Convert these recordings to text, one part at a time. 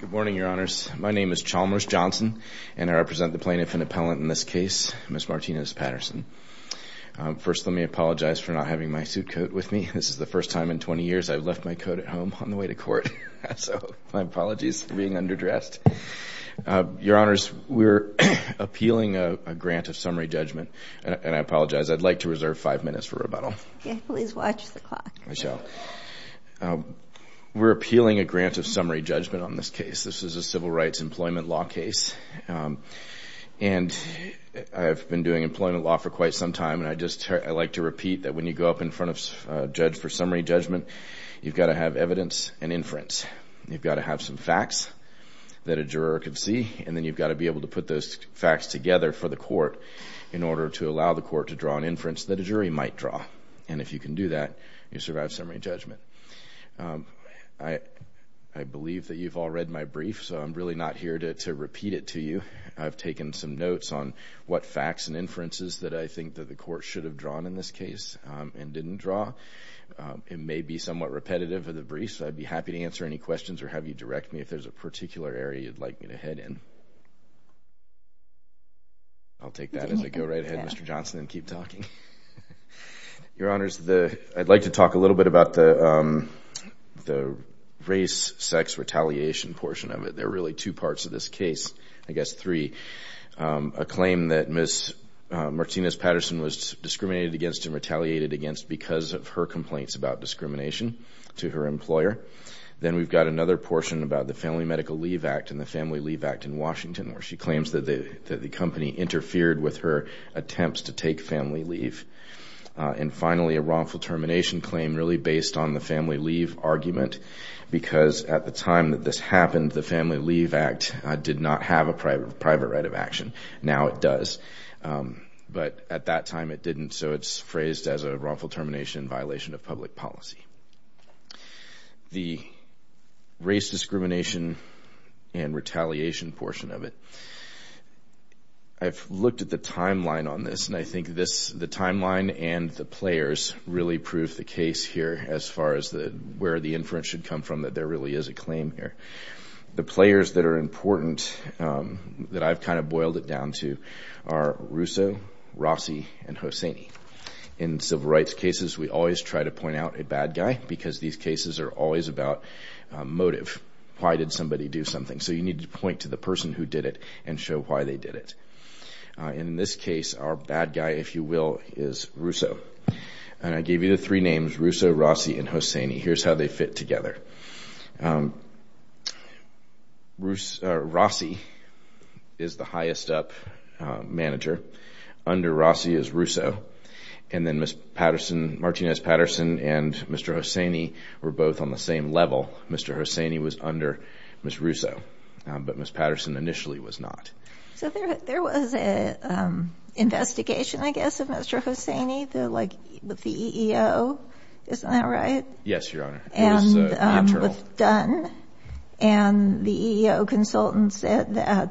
Good morning, Your Honors. My name is Chalmers Johnson, and I represent the plaintiff and appellant in this case, Ms. Martinez-Patterson. First, let me apologize for not having my suit coat with me. This is the first time in 20 years I've left my coat at home on the way to court, so my apologies for being underdressed. Your Honors, we're appealing a grant of summary judgment, and I apologize. I'd like to reserve five minutes for rebuttal. Please watch the clock. I shall. We're appealing a grant of summary judgment on this case. This is a civil rights employment law case, and I've been doing employment law for quite some time, and I'd just like to repeat that when you go up in front of a judge for summary judgment, you've got to have evidence and inference. You've got to have some facts that a juror can see, and then you've got to be able to put those facts together for the court in order to allow the court to draw an inference that a jury might draw, and if you can do that, you survive summary judgment. I believe that you've all read my brief, so I'm really not here to repeat it to you. I've taken some notes on what facts and inferences that I think that the court should have drawn in this case and didn't draw. It may be somewhat repetitive of the brief, so I'd be happy to answer any questions or have you direct me if there's a particular area you'd like me to head in. I'll take that as I go right ahead, Mr. Johnson, and keep talking. Your Honors, I'd like to talk a little bit about the race-sex retaliation portion of it. There are really two parts of this case, I guess three. A claim that Ms. Martinez-Patterson was discriminated against and retaliated against because of her complaints about discrimination to her employer. Then we've got another portion about the Family Medical Leave Act and the Family Leave Act in Washington where she claims that the company interfered with her attempts to take family leave. And finally, a wrongful termination claim really based on the family leave argument because at the time that this happened, the Family Leave Act did not have a private right of action. Now it does, but at that time it didn't, so it's phrased as a wrongful termination in violation of public policy. The race discrimination and retaliation portion of it, I've looked at the timeline on this and I think the timeline and the players really prove the case here as far as where the inference should come from that there really is a claim here. The players that are important that I've kind of boiled it down to are Russo, Rossi, and Hosseini. In civil rights cases, we always try to point out a bad guy because these cases are always about motive. Why did somebody do something? So you need to point to the person who did it and show why they did it. In this case, our bad guy, if you will, is Russo. And I gave you the three names, Russo, Rossi, and Hosseini. Here's how they fit together. Rossi is the highest up manager. Under Rossi is Russo. And then Martinez-Patterson and Mr. Hosseini were both on the same level. Mr. Hosseini was under Ms. Russo, but Ms. Patterson initially was not. So there was an investigation, I guess, of Mr. Hosseini with the EEO, isn't that right? Yes, Your Honor. It was internal. And was done. And the EEO consultant said that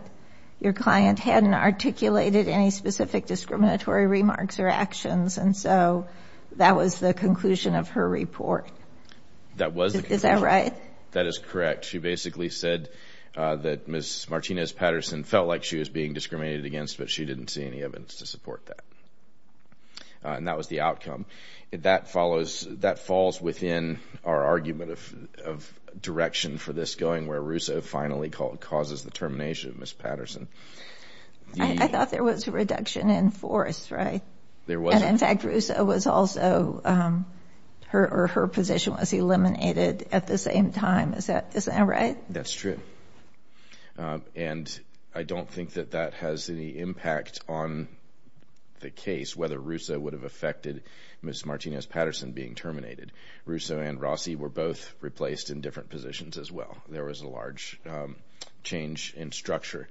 your client hadn't articulated any specific discriminatory remarks or actions. And so that was the conclusion of her report. That was the conclusion. Is that right? That is correct. She basically said that Ms. Martinez-Patterson felt like she was being discriminated against, but she didn't see any evidence to support that. And that was the outcome. That falls within our argument of direction for this going, where Russo finally causes the termination of Ms. Patterson. I thought there was a reduction in force, right? There wasn't. And, in fact, Russo was also, or her position was eliminated at the same time. Is that right? That's true. And I don't think that that has any impact on the case, whether Russo would have affected Ms. Martinez-Patterson being terminated. Russo and Rossi were both replaced in different positions as well. There was a large change in structure.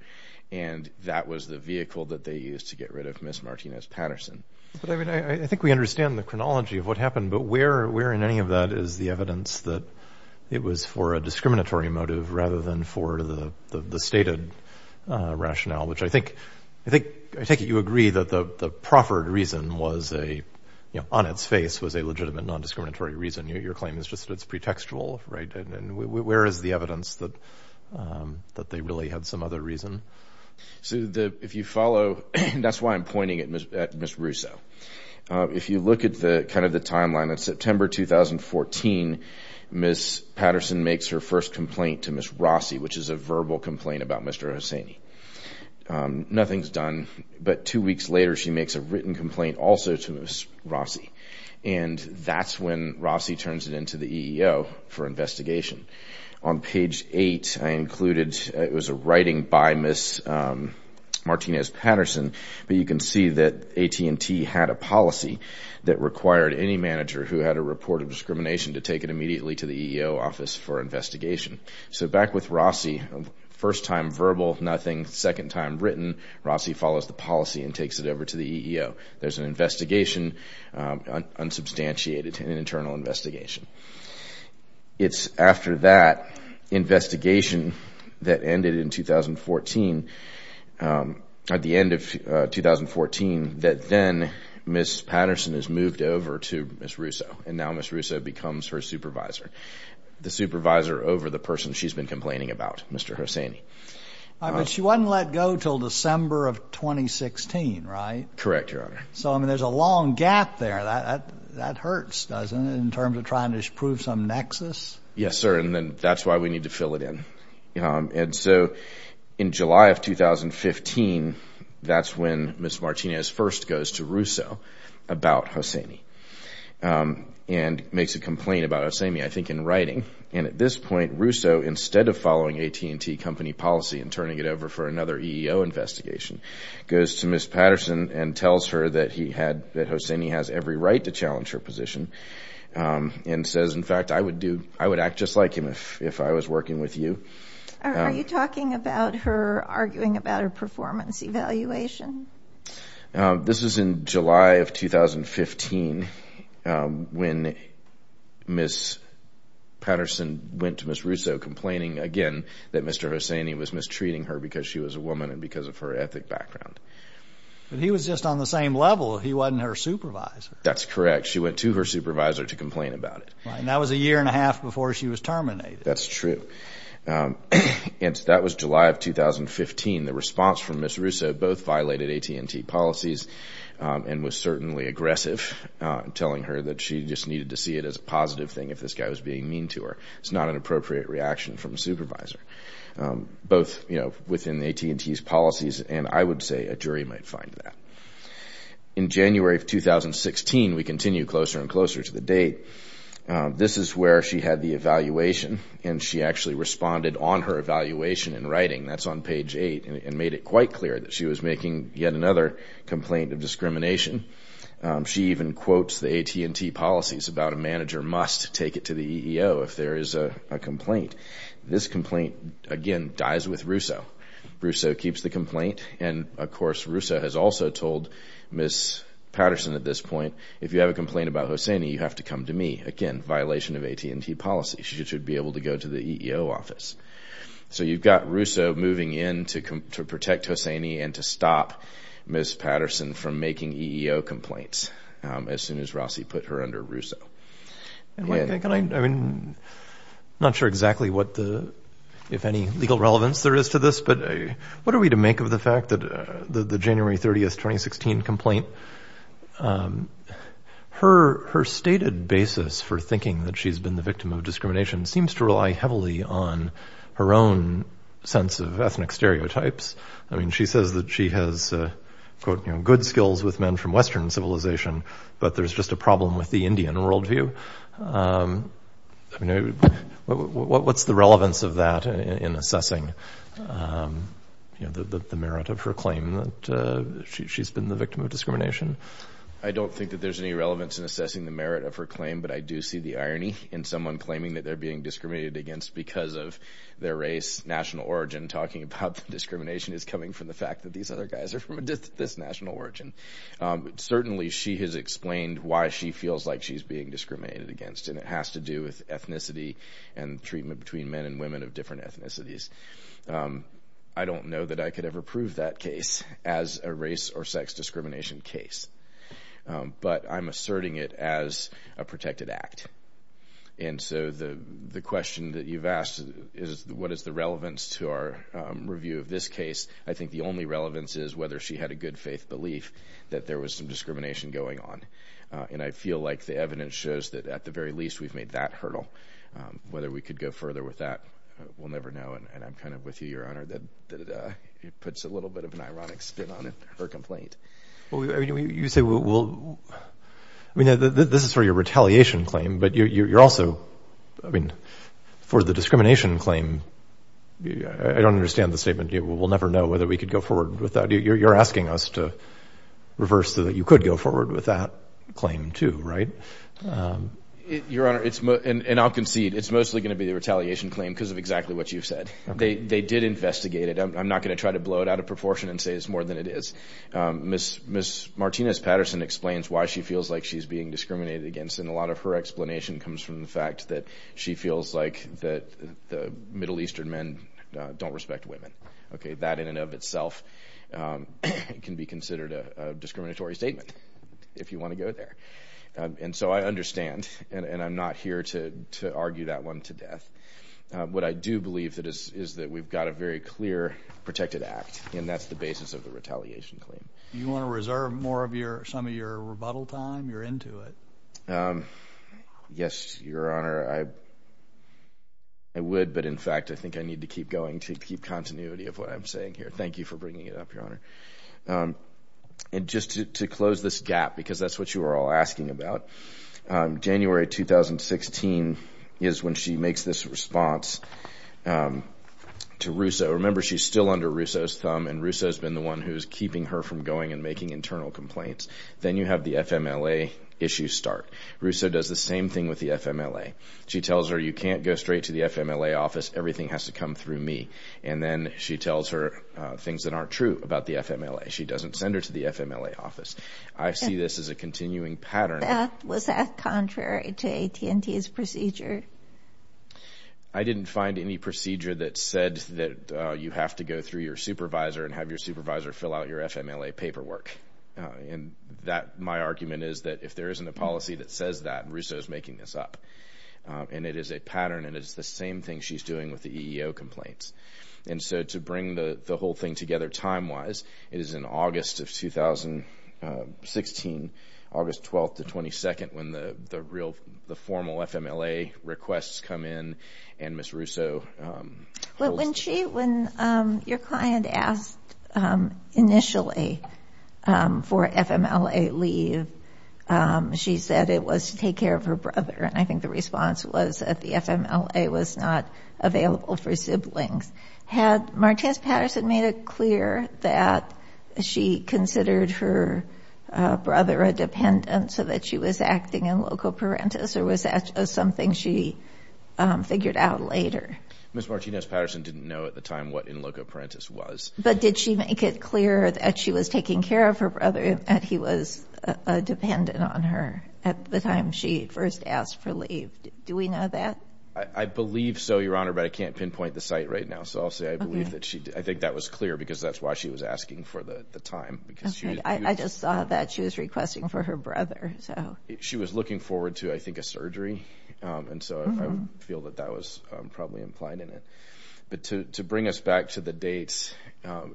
And that was the vehicle that they used to get rid of Ms. Martinez-Patterson. I think we understand the chronology of what happened. But where in any of that is the evidence that it was for a discriminatory motive rather than for the stated rationale, which I think you agree that the proffered reason on its face was a legitimate non-discriminatory reason. Your claim is just that it's pretextual, right? And where is the evidence that they really had some other reason? So if you follow, that's why I'm pointing at Ms. Russo. If you look at kind of the timeline, in September 2014, Ms. Patterson makes her first complaint to Ms. Rossi, which is a verbal complaint about Mr. Hosseini. Nothing's done. But two weeks later, she makes a written complaint also to Ms. Rossi. And that's when Rossi turns it into the EEO for investigation. On page 8, I included, it was a writing by Ms. Martinez-Patterson. But you can see that AT&T had a policy that required any manager who had a report of discrimination to take it immediately to the EEO office for investigation. So back with Rossi, first time verbal, nothing. Second time written, Rossi follows the policy and takes it over to the EEO. There's an investigation, unsubstantiated, an internal investigation. It's after that investigation that ended in 2014, at the end of 2014, that then Ms. Patterson is moved over to Ms. Russo. And now Ms. Russo becomes her supervisor, the supervisor over the person she's been complaining about, Mr. Hosseini. But she wasn't let go until December of 2016, right? Correct, Your Honor. So, I mean, there's a long gap there. That hurts, doesn't it, in terms of trying to prove some nexus? Yes, sir, and that's why we need to fill it in. And so in July of 2015, that's when Ms. Martinez first goes to Russo about Hosseini and makes a complaint about Hosseini, I think in writing. And at this point, Russo, instead of following AT&T company policy and turning it over for another EEO investigation, goes to Ms. Patterson and tells her that Hosseini has every right to challenge her position and says, in fact, I would act just like him if I was working with you. Are you talking about her arguing about her performance evaluation? This is in July of 2015, when Ms. Patterson went to Ms. Russo complaining again that Mr. Hosseini was mistreating her because she was a woman and because of her ethic background. But he was just on the same level. He wasn't her supervisor. That's correct. She went to her supervisor to complain about it. And that was a year and a half before she was terminated. That's true. And that was July of 2015. The response from Ms. Russo both violated AT&T policies and was certainly aggressive, telling her that she just needed to see it as a positive thing if this guy was being mean to her. It's not an appropriate reaction from a supervisor, both within AT&T's policies, and I would say a jury might find that. In January of 2016, we continue closer and closer to the date. This is where she had the evaluation, and she actually responded on her evaluation in writing. That's on page 8, and made it quite clear that she was making yet another complaint of discrimination. She even quotes the AT&T policies about a manager must take it to the EEO if there is a complaint. This complaint, again, dies with Russo. Russo keeps the complaint, and, of course, Russo has also told Ms. Patterson at this point, if you have a complaint about Hosseini, you have to come to me. Again, violation of AT&T policy. She should be able to go to the EEO office. So you've got Russo moving in to protect Hosseini and to stop Ms. Patterson from making EEO complaints as soon as Rossi put her under Russo. I'm not sure exactly what the, if any, legal relevance there is to this, but what are we to make of the fact that the January 30, 2016 complaint, her stated basis for thinking that she's been the victim of discrimination seems to rely heavily on her own sense of ethnic stereotypes. I mean, she says that she has, quote, you know, good skills with men from Western civilization, but there's just a problem with the Indian worldview. I mean, what's the relevance of that in assessing, you know, the merit of her claim that she's been the victim of discrimination? I don't think that there's any relevance in assessing the merit of her claim, but I do see the irony in someone claiming that they're being discriminated against because of their race, national origin. Talking about discrimination is coming from the fact that these other guys are from this national origin. Certainly she has explained why she feels like she's being discriminated against, and it has to do with ethnicity and treatment between men and women of different ethnicities. I don't know that I could ever prove that case as a race or sex discrimination case, but I'm asserting it as a protected act. And so the question that you've asked is what is the relevance to our review of this case? I think the only relevance is whether she had a good faith belief that there was some discrimination going on. And I feel like the evidence shows that at the very least we've made that hurdle. Whether we could go further with that, we'll never know. And I'm kind of with you, Your Honor, that it puts a little bit of an ironic spin on her complaint. You say we'll – I mean, this is for your retaliation claim, but you're also – I mean, for the discrimination claim, I don't understand the statement, we'll never know whether we could go forward with that. You're asking us to reverse so that you could go forward with that claim too, right? Your Honor, and I'll concede, it's mostly going to be the retaliation claim because of exactly what you've said. They did investigate it. I'm not going to try to blow it out of proportion and say it's more than it is. Ms. Martinez-Patterson explains why she feels like she's being discriminated against, and a lot of her explanation comes from the fact that she feels like the Middle Eastern men don't respect women. Okay, that in and of itself can be considered a discriminatory statement if you want to go there. And so I understand, and I'm not here to argue that one to death. What I do believe is that we've got a very clear protected act, and that's the basis of the retaliation claim. Do you want to reserve more of your – some of your rebuttal time? You're into it. Yes, Your Honor, I would, but in fact, I think I need to keep going to keep continuity of what I'm saying here. Thank you for bringing it up, Your Honor. And just to close this gap, because that's what you were all asking about, January 2016 is when she makes this response to Rousseau. Remember, she's still under Rousseau's thumb, and Rousseau's been the one who's keeping her from going and making internal complaints. Then you have the FMLA issue start. Rousseau does the same thing with the FMLA. She tells her, you can't go straight to the FMLA office. Everything has to come through me. And then she tells her things that aren't true about the FMLA. She doesn't send her to the FMLA office. I see this as a continuing pattern. Was that contrary to AT&T's procedure? I didn't find any procedure that said that you have to go through your supervisor and have your supervisor fill out your FMLA paperwork. And my argument is that if there isn't a policy that says that, Rousseau's making this up. And it is a pattern, and it's the same thing she's doing with the EEO complaints. And so to bring the whole thing together time-wise, it is in August of 2016, August 12th to 22nd, when the formal FMLA requests come in and Ms. Rousseau. When your client asked initially for FMLA leave, she said it was to take care of her brother. And I think the response was that the FMLA was not available for siblings. Had Martinez-Patterson made it clear that she considered her brother a dependent so that she was acting in loco parentis, or was that something she figured out later? Ms. Martinez-Patterson didn't know at the time what in loco parentis was. But did she make it clear that she was taking care of her brother, that he was a dependent on her at the time she first asked for leave? Do we know that? I believe so, Your Honor, but I can't pinpoint the site right now. So I'll say I believe that she did. I think that was clear because that's why she was asking for the time. I just saw that she was requesting for her brother. She was looking forward to, I think, a surgery. And so I feel that that was probably implied in it. But to bring us back to the dates,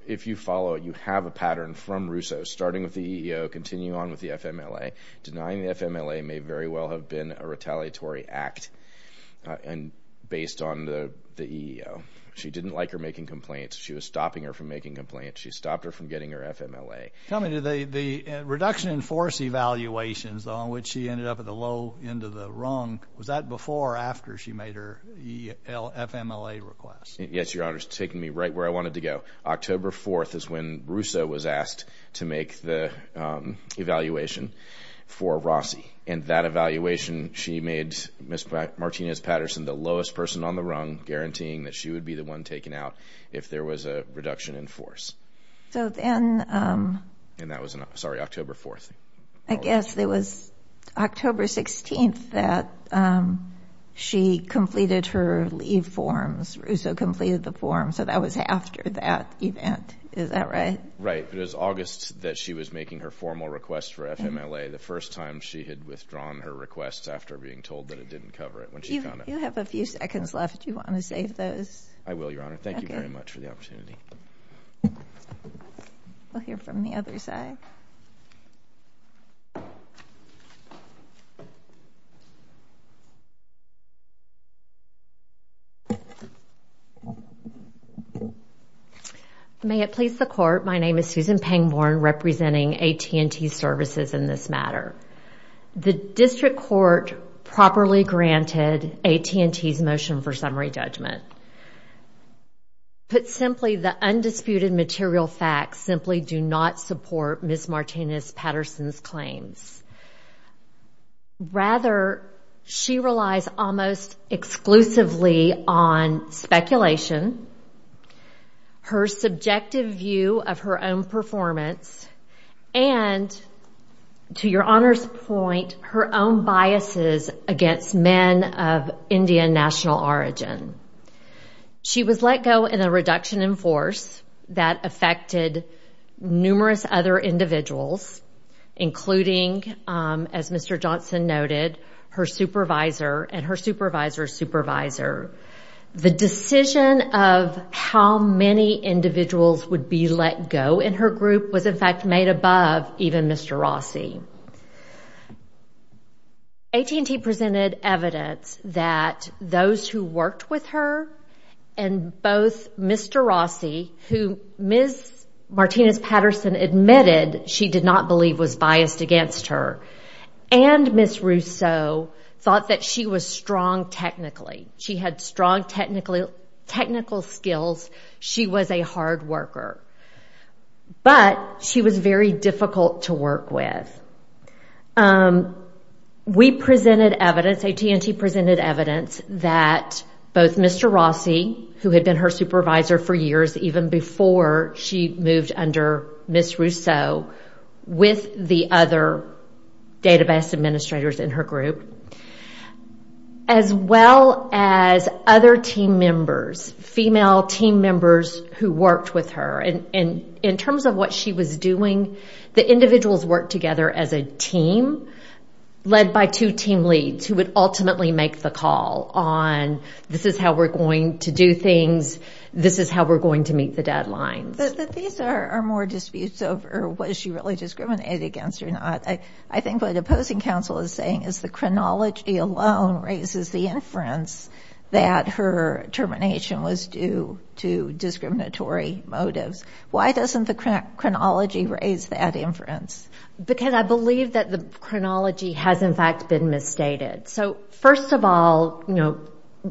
if you follow it, you have a pattern from Rousseau starting with the EEO, continuing on with the FMLA. Denying the FMLA may very well have been a retaliatory act based on the EEO. She didn't like her making complaints. She was stopping her from making complaints. She stopped her from getting her FMLA. Tell me, the reduction in force evaluations, on which she ended up at the low end of the rung, was that before or after she made her FMLA request? Yes, Your Honor. It's taken me right where I wanted to go. October 4th is when Rousseau was asked to make the evaluation for Rossi. And that evaluation, she made Ms. Martinez-Patterson the lowest person on the rung, guaranteeing that she would be the one taken out if there was a reduction in force. And that was in October 4th. I guess it was October 16th that she completed her leave forms. So that was after that event. Is that right? Right. It was August that she was making her formal request for FMLA, the first time she had withdrawn her request after being told that it didn't cover it. You have a few seconds left. Do you want to save those? I will, Your Honor. Thank you very much for the opportunity. We'll hear from the other side. May it please the Court, my name is Susan Pangborn, representing AT&T Services in this matter. The District Court properly granted AT&T's motion for summary judgment. Put simply, the undisputed material facts simply do not support Ms. Martinez-Patterson's claims. Rather, she relies almost exclusively on speculation, her subjective view of her own performance, and, to Your Honor's point, her own biases against men of Indian national origin. She was let go in a reduction in force that affected numerous other individuals, including, as Mr. Johnson noted, her supervisor and her supervisor's supervisor. The decision of how many individuals would be let go in her group was in fact made above even Mr. Rossi. AT&T presented evidence that those who worked with her and both Mr. Rossi, who Ms. Martinez-Patterson admitted she did not believe was biased against her, and Ms. Rousseau thought that she was strong technically. She had strong technical skills. She was a hard worker. But she was very difficult to work with. We presented evidence, AT&T presented evidence, that both Mr. Rossi, who had been her supervisor for years, even before she moved under Ms. Rousseau, with the other database administrators in her group, as well as other team members, female team members who worked with her. In terms of what she was doing, the individuals worked together as a team, led by two team leads who would ultimately make the call on, this is how we're going to do things, this is how we're going to meet the deadlines. But these are more disputes over was she really discriminated against or not. I think what opposing counsel is saying is the chronology alone raises the inference that her termination was due to discriminatory motives. Why doesn't the chronology raise that inference? Because I believe that the chronology has, in fact, been misstated. First of all,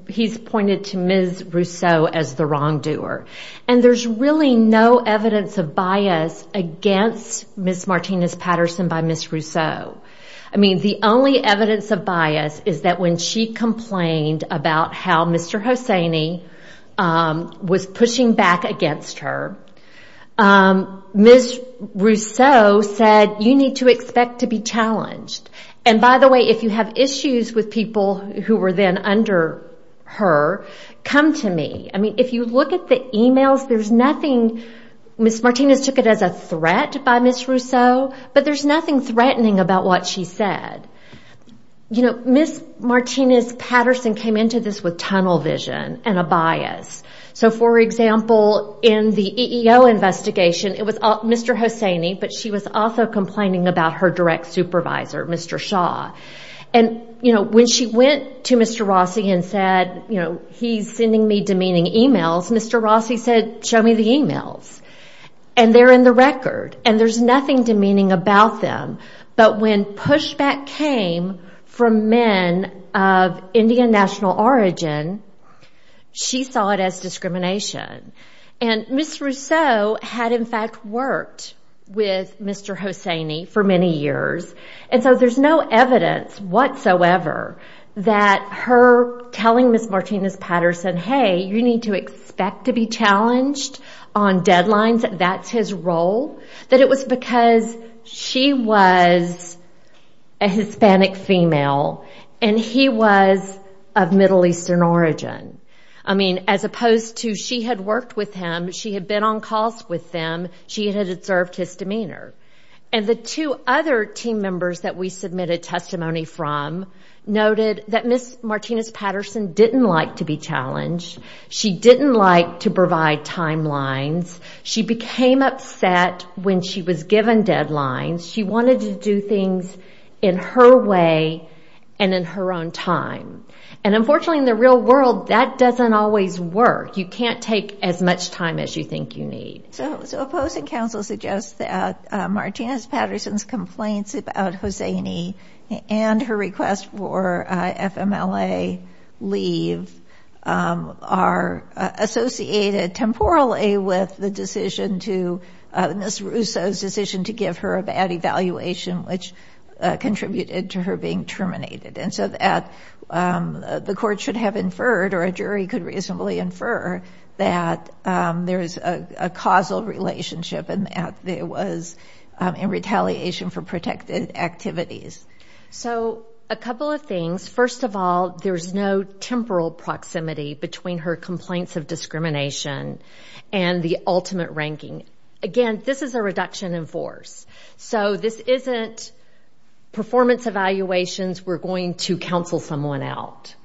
he's pointed to Ms. Rousseau as the wrongdoer. There's really no evidence of bias against Ms. Martinez-Patterson by Ms. Rousseau. The only evidence of bias is that when she complained about how Mr. Hosseini was pushing back against her, Ms. Rousseau said, you need to expect to be challenged. And by the way, if you have issues with people who were then under her, come to me. I mean, if you look at the emails, there's nothing, Ms. Martinez took it as a threat by Ms. Rousseau, but there's nothing threatening about what she said. Ms. Martinez-Patterson came into this with tunnel vision and a bias. So, for example, in the EEO investigation, it was Mr. Hosseini, but she was also complaining about her direct supervisor, Mr. Shaw. And when she went to Mr. Rossi and said, he's sending me demeaning emails, Mr. Rossi said, show me the emails. And they're in the record, and there's nothing demeaning about them. But when pushback came from men of Indian national origin, she saw it as discrimination. And Ms. Rousseau had, in fact, worked with Mr. Hosseini for many years. And so there's no evidence whatsoever that her telling Ms. Martinez-Patterson, hey, you need to expect to be challenged on deadlines, that that's his role, that it was because she was a Hispanic female, and he was of Middle Eastern origin. I mean, as opposed to she had worked with him, she had been on calls with him, she had observed his demeanor. And the two other team members that we submitted testimony from noted that Ms. Martinez-Patterson didn't like to be challenged. She didn't like to provide timelines. She became upset when she was given deadlines. She wanted to do things in her way and in her own time. And unfortunately, in the real world, that doesn't always work. You can't take as much time as you think you need. So opposing counsel suggests that Martinez-Patterson's complaints about Hosseini and her request for FMLA leave are associated temporally with the decision to Ms. Rousseau's decision to give her a bad evaluation, which contributed to her being terminated. And so that the court should have inferred, or a jury could reasonably infer, that there is a causal relationship and that it was in retaliation for protected activities. So a couple of things. First of all, there's no temporal proximity between her complaints of discrimination and the ultimate ranking. Again, this is a reduction in force. So this isn't performance evaluations. We're going to counsel someone out.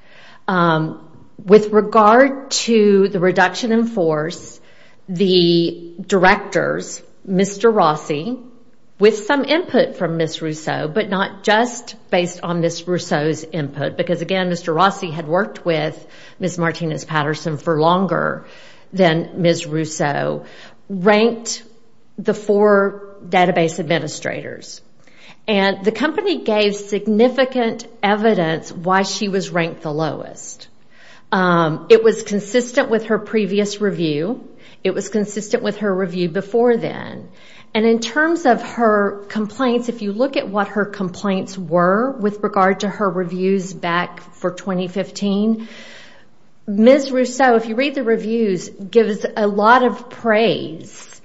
With regard to the reduction in force, the directors, Mr. Rossi, with some input from Ms. Rousseau, but not just based on Ms. Rousseau's input, because again, Mr. Rossi had worked with Ms. Martinez-Patterson for longer than Ms. Rousseau, ranked the four database administrators. And the company gave significant evidence why she was ranked the lowest. It was consistent with her previous review. It was consistent with her review before then. And in terms of her complaints, if you look at what her complaints were with regard to her reviews back for 2015, Ms. Rousseau, if you read the reviews, gives a lot of praise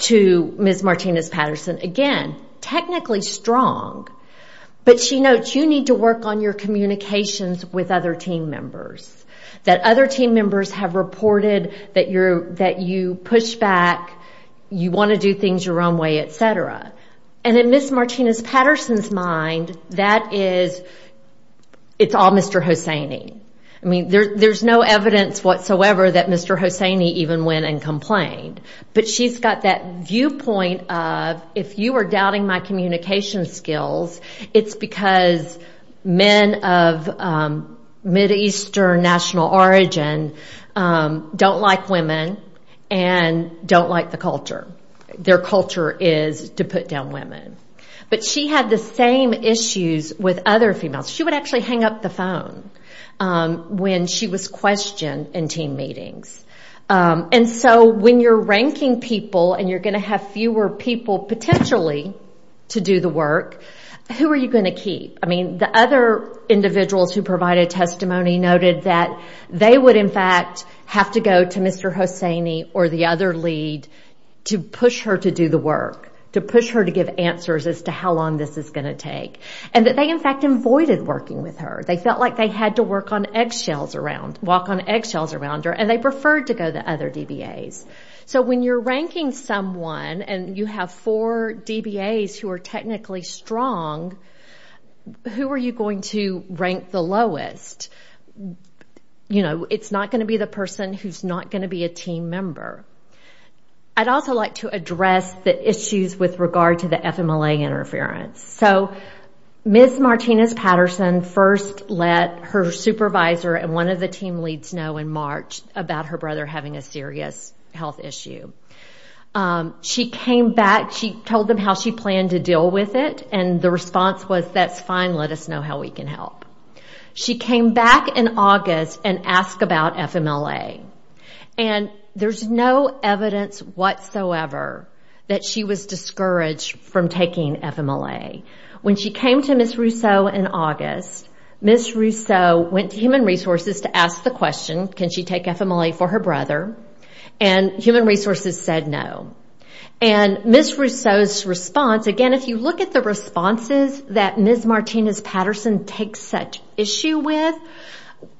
to Ms. Martinez-Patterson. Again, technically strong, but she notes you need to work on your communications with other team members, that other team members have reported that you push back, you want to do things your own way, et cetera. And in Ms. Martinez-Patterson's mind, that is, it's all Mr. Hosseini. I mean, there's no evidence whatsoever that Mr. Hosseini even went and complained. But she's got that viewpoint of, if you are doubting my communication skills, it's because men of Mideastern national origin don't like women and don't like the culture. Their culture is to put down women. But she had the same issues with other females. She would actually hang up the phone when she was questioned in team meetings. And so when you're ranking people and you're going to have fewer people potentially to do the work, who are you going to keep? I mean, the other individuals who provided testimony noted that they would, in fact, have to go to Mr. Hosseini or the other lead to push her to do the work, to push her to give answers as to how long this is going to take, and that they, in fact, avoided working with her. They felt like they had to walk on eggshells around her, and they preferred to go to other DBAs. So when you're ranking someone and you have four DBAs who are technically strong, who are you going to rank the lowest? You know, it's not going to be the person who's not going to be a team member. I'd also like to address the issues with regard to the FMLA interference. So Ms. Martinez-Patterson first let her supervisor and one of the team leads know in March about her brother having a serious health issue. She came back. She told them how she planned to deal with it, and the response was, that's fine, let us know how we can help. She came back in August and asked about FMLA, and there's no evidence whatsoever that she was discouraged from taking FMLA. When she came to Ms. Rousseau in August, Ms. Rousseau went to Human Resources to ask the question, can she take FMLA for her brother, and Human Resources said no. And Ms. Rousseau's response, again, if you look at the responses that Ms. Martinez-Patterson takes such issue with,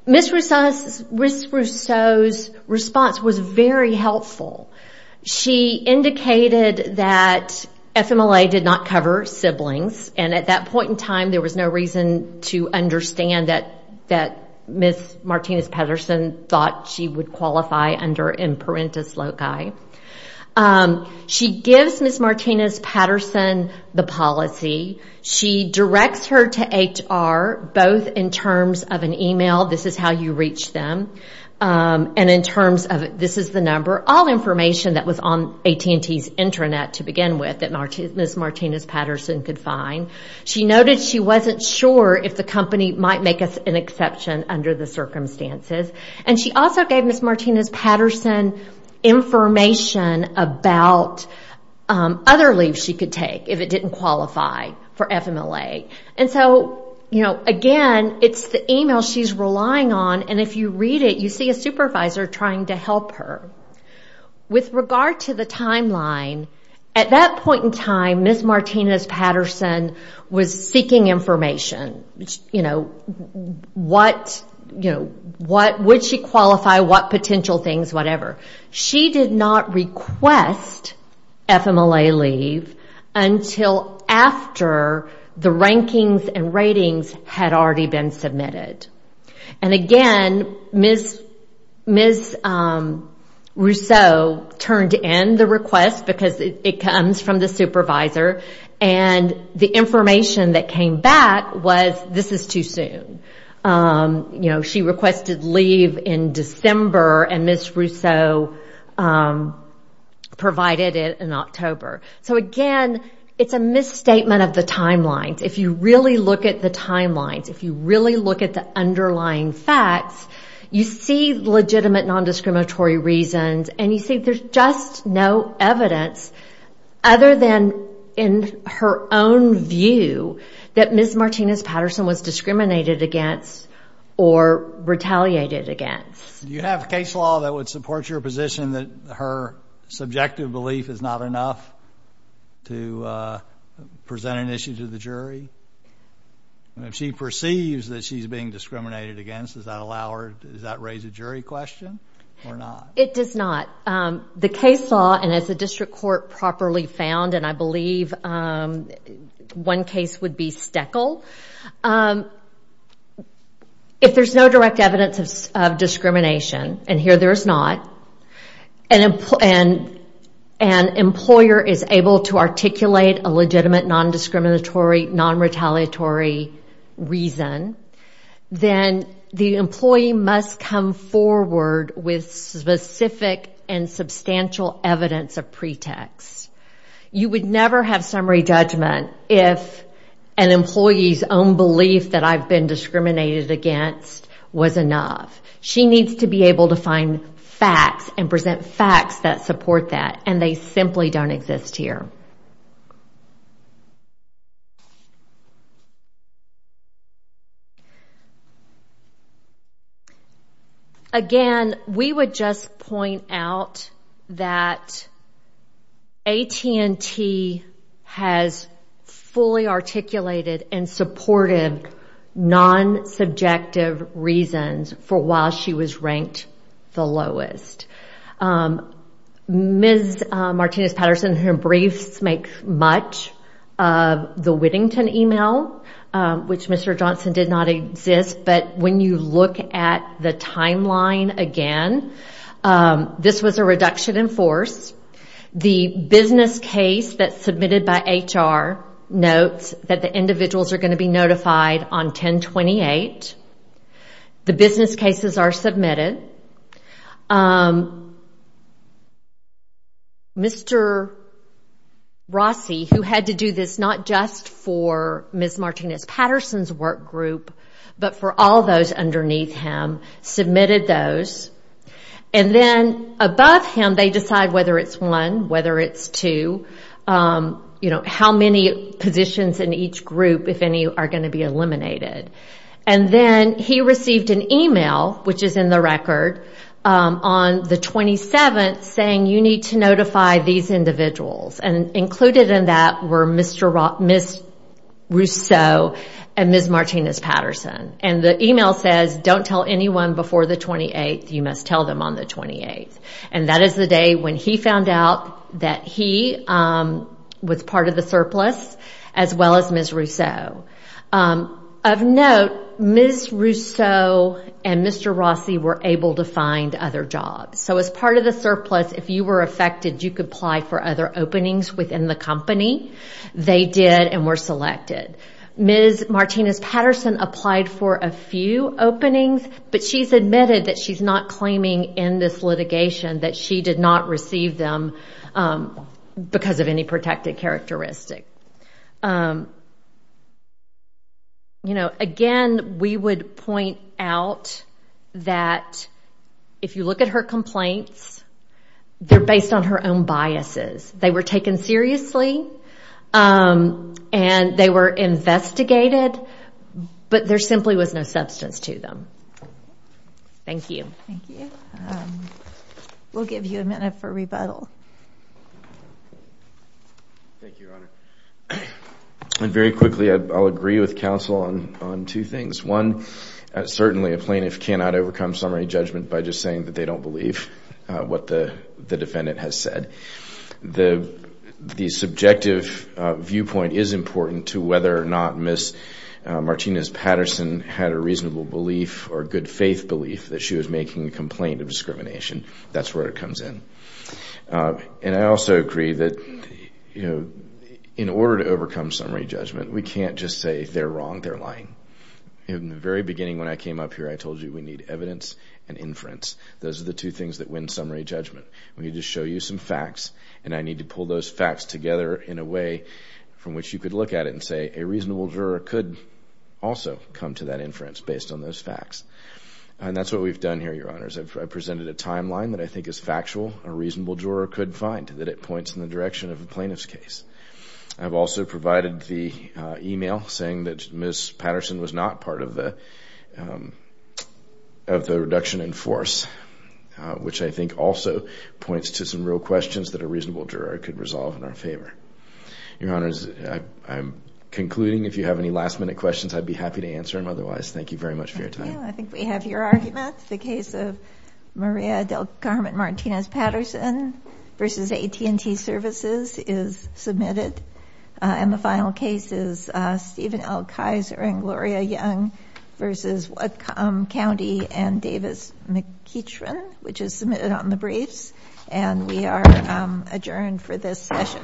Ms. Rousseau's response was very helpful. She indicated that FMLA did not cover siblings, and at that point in time, there was no reason to understand that Ms. Martinez-Patterson thought she would qualify under imperentis loci. She gives Ms. Martinez-Patterson the policy. She directs her to HR, both in terms of an email, this is how you reach them, and in terms of, this is the number, all information that was on AT&T's intranet to begin with, that Ms. Martinez-Patterson could find. She noted she wasn't sure if the company might make an exception under the circumstances. And she also gave Ms. Martinez-Patterson information about other leaves she could take if it didn't qualify for FMLA. And so, again, it's the email she's relying on, and if you read it, you see a supervisor trying to help her. With regard to the timeline, at that point in time, Ms. Martinez-Patterson was seeking information. What would she qualify, what potential things, whatever. She did not request FMLA leave until after the rankings and ratings had already been submitted. And again, Ms. Rousseau turned in the request because it comes from the supervisor, and the information that came back was, this is too soon. She requested leave in December, and Ms. Rousseau provided it in October. So again, it's a misstatement of the timelines. If you really look at the timelines, if you really look at the underlying facts, you see legitimate nondiscriminatory reasons, and you see there's just no evidence other than in her own view that Ms. Martinez-Patterson was discriminated against or retaliated against. Do you have case law that would support your position that her subjective belief is not enough to present an issue to the jury? If she perceives that she's being discriminated against, does that raise a jury question or not? It does not. The case law, and as the district court properly found, and I believe one case would be Steckel, if there's no direct evidence of discrimination, and here there is not, and an employer is able to articulate a legitimate nondiscriminatory, nonretaliatory reason, then the employee must come forward with specific and substantial evidence of pretext. You would never have summary judgment if an employee's own belief that I've been discriminated against was enough. She needs to be able to find facts and present facts that support that, and they simply don't exist here. Thank you. Again, we would just point out that AT&T has fully articulated and supported non-subjective reasons for why she was ranked the lowest. Ms. Martinez-Patterson, her briefs make much of the Whittington email, which Mr. Johnson did not exist, but when you look at the timeline again, this was a reduction in force. The business case that's submitted by HR notes that the individuals are going to be notified on 10-28. The business cases are submitted. Mr. Rossi, who had to do this not just for Ms. Martinez-Patterson's work group, but for all those underneath him, submitted those, and then above him they decide whether it's one, whether it's two, how many positions in each group, if any, are going to be eliminated. Then he received an email, which is in the record, on the 27th saying, you need to notify these individuals. Included in that were Ms. Rousseau and Ms. Martinez-Patterson. The email says, don't tell anyone before the 28th, you must tell them on the 28th. That is the day when he found out that he was part of the surplus, as well as Ms. Rousseau. Of note, Ms. Rousseau and Mr. Rossi were able to find other jobs. As part of the surplus, if you were affected, you could apply for other openings within the company. They did and were selected. Ms. Martinez-Patterson applied for a few openings, but she's admitted that she's not claiming in this litigation that she did not receive them because of any protected characteristic. Again, we would point out that if you look at her complaints, they're based on her own biases. They were taken seriously and they were investigated, but there simply was no substance to them. Thank you. Thank you. We'll give you a minute for rebuttal. Thank you, Your Honor. Very quickly, I'll agree with counsel on two things. One, certainly a plaintiff cannot overcome summary judgment by just saying that they don't believe what the defendant has said. The subjective viewpoint is important to whether or not Ms. Martinez-Patterson had a reasonable belief or good faith belief that she was making a complaint of discrimination. That's where it comes in. I also agree that in order to overcome summary judgment, we can't just say they're wrong, they're lying. In the very beginning when I came up here, I told you we need evidence and inference. Those are the two things that win summary judgment. We need to show you some facts, and I need to pull those facts together in a way from which you could look at it and say a reasonable juror could also come to that inference based on those facts. That's what we've done here, Your Honors. I've presented a timeline that I think is factual. A reasonable juror could find that it points in the direction of a plaintiff's case. I've also provided the email saying that Ms. Patterson was not part of the reduction in force, which I think also points to some real questions that a reasonable juror could resolve in our favor. Your Honors, I'm concluding. If you have any last-minute questions, I'd be happy to answer them otherwise. Thank you very much for your time. I think we have your argument. The case of Maria del Carmen Martinez-Patterson v. AT&T Services is submitted. And the final case is Stephen L. Kaiser and Gloria Young v. Whatcom County and Davis McKeachrin, which is submitted on the briefs. And we are adjourned for this session.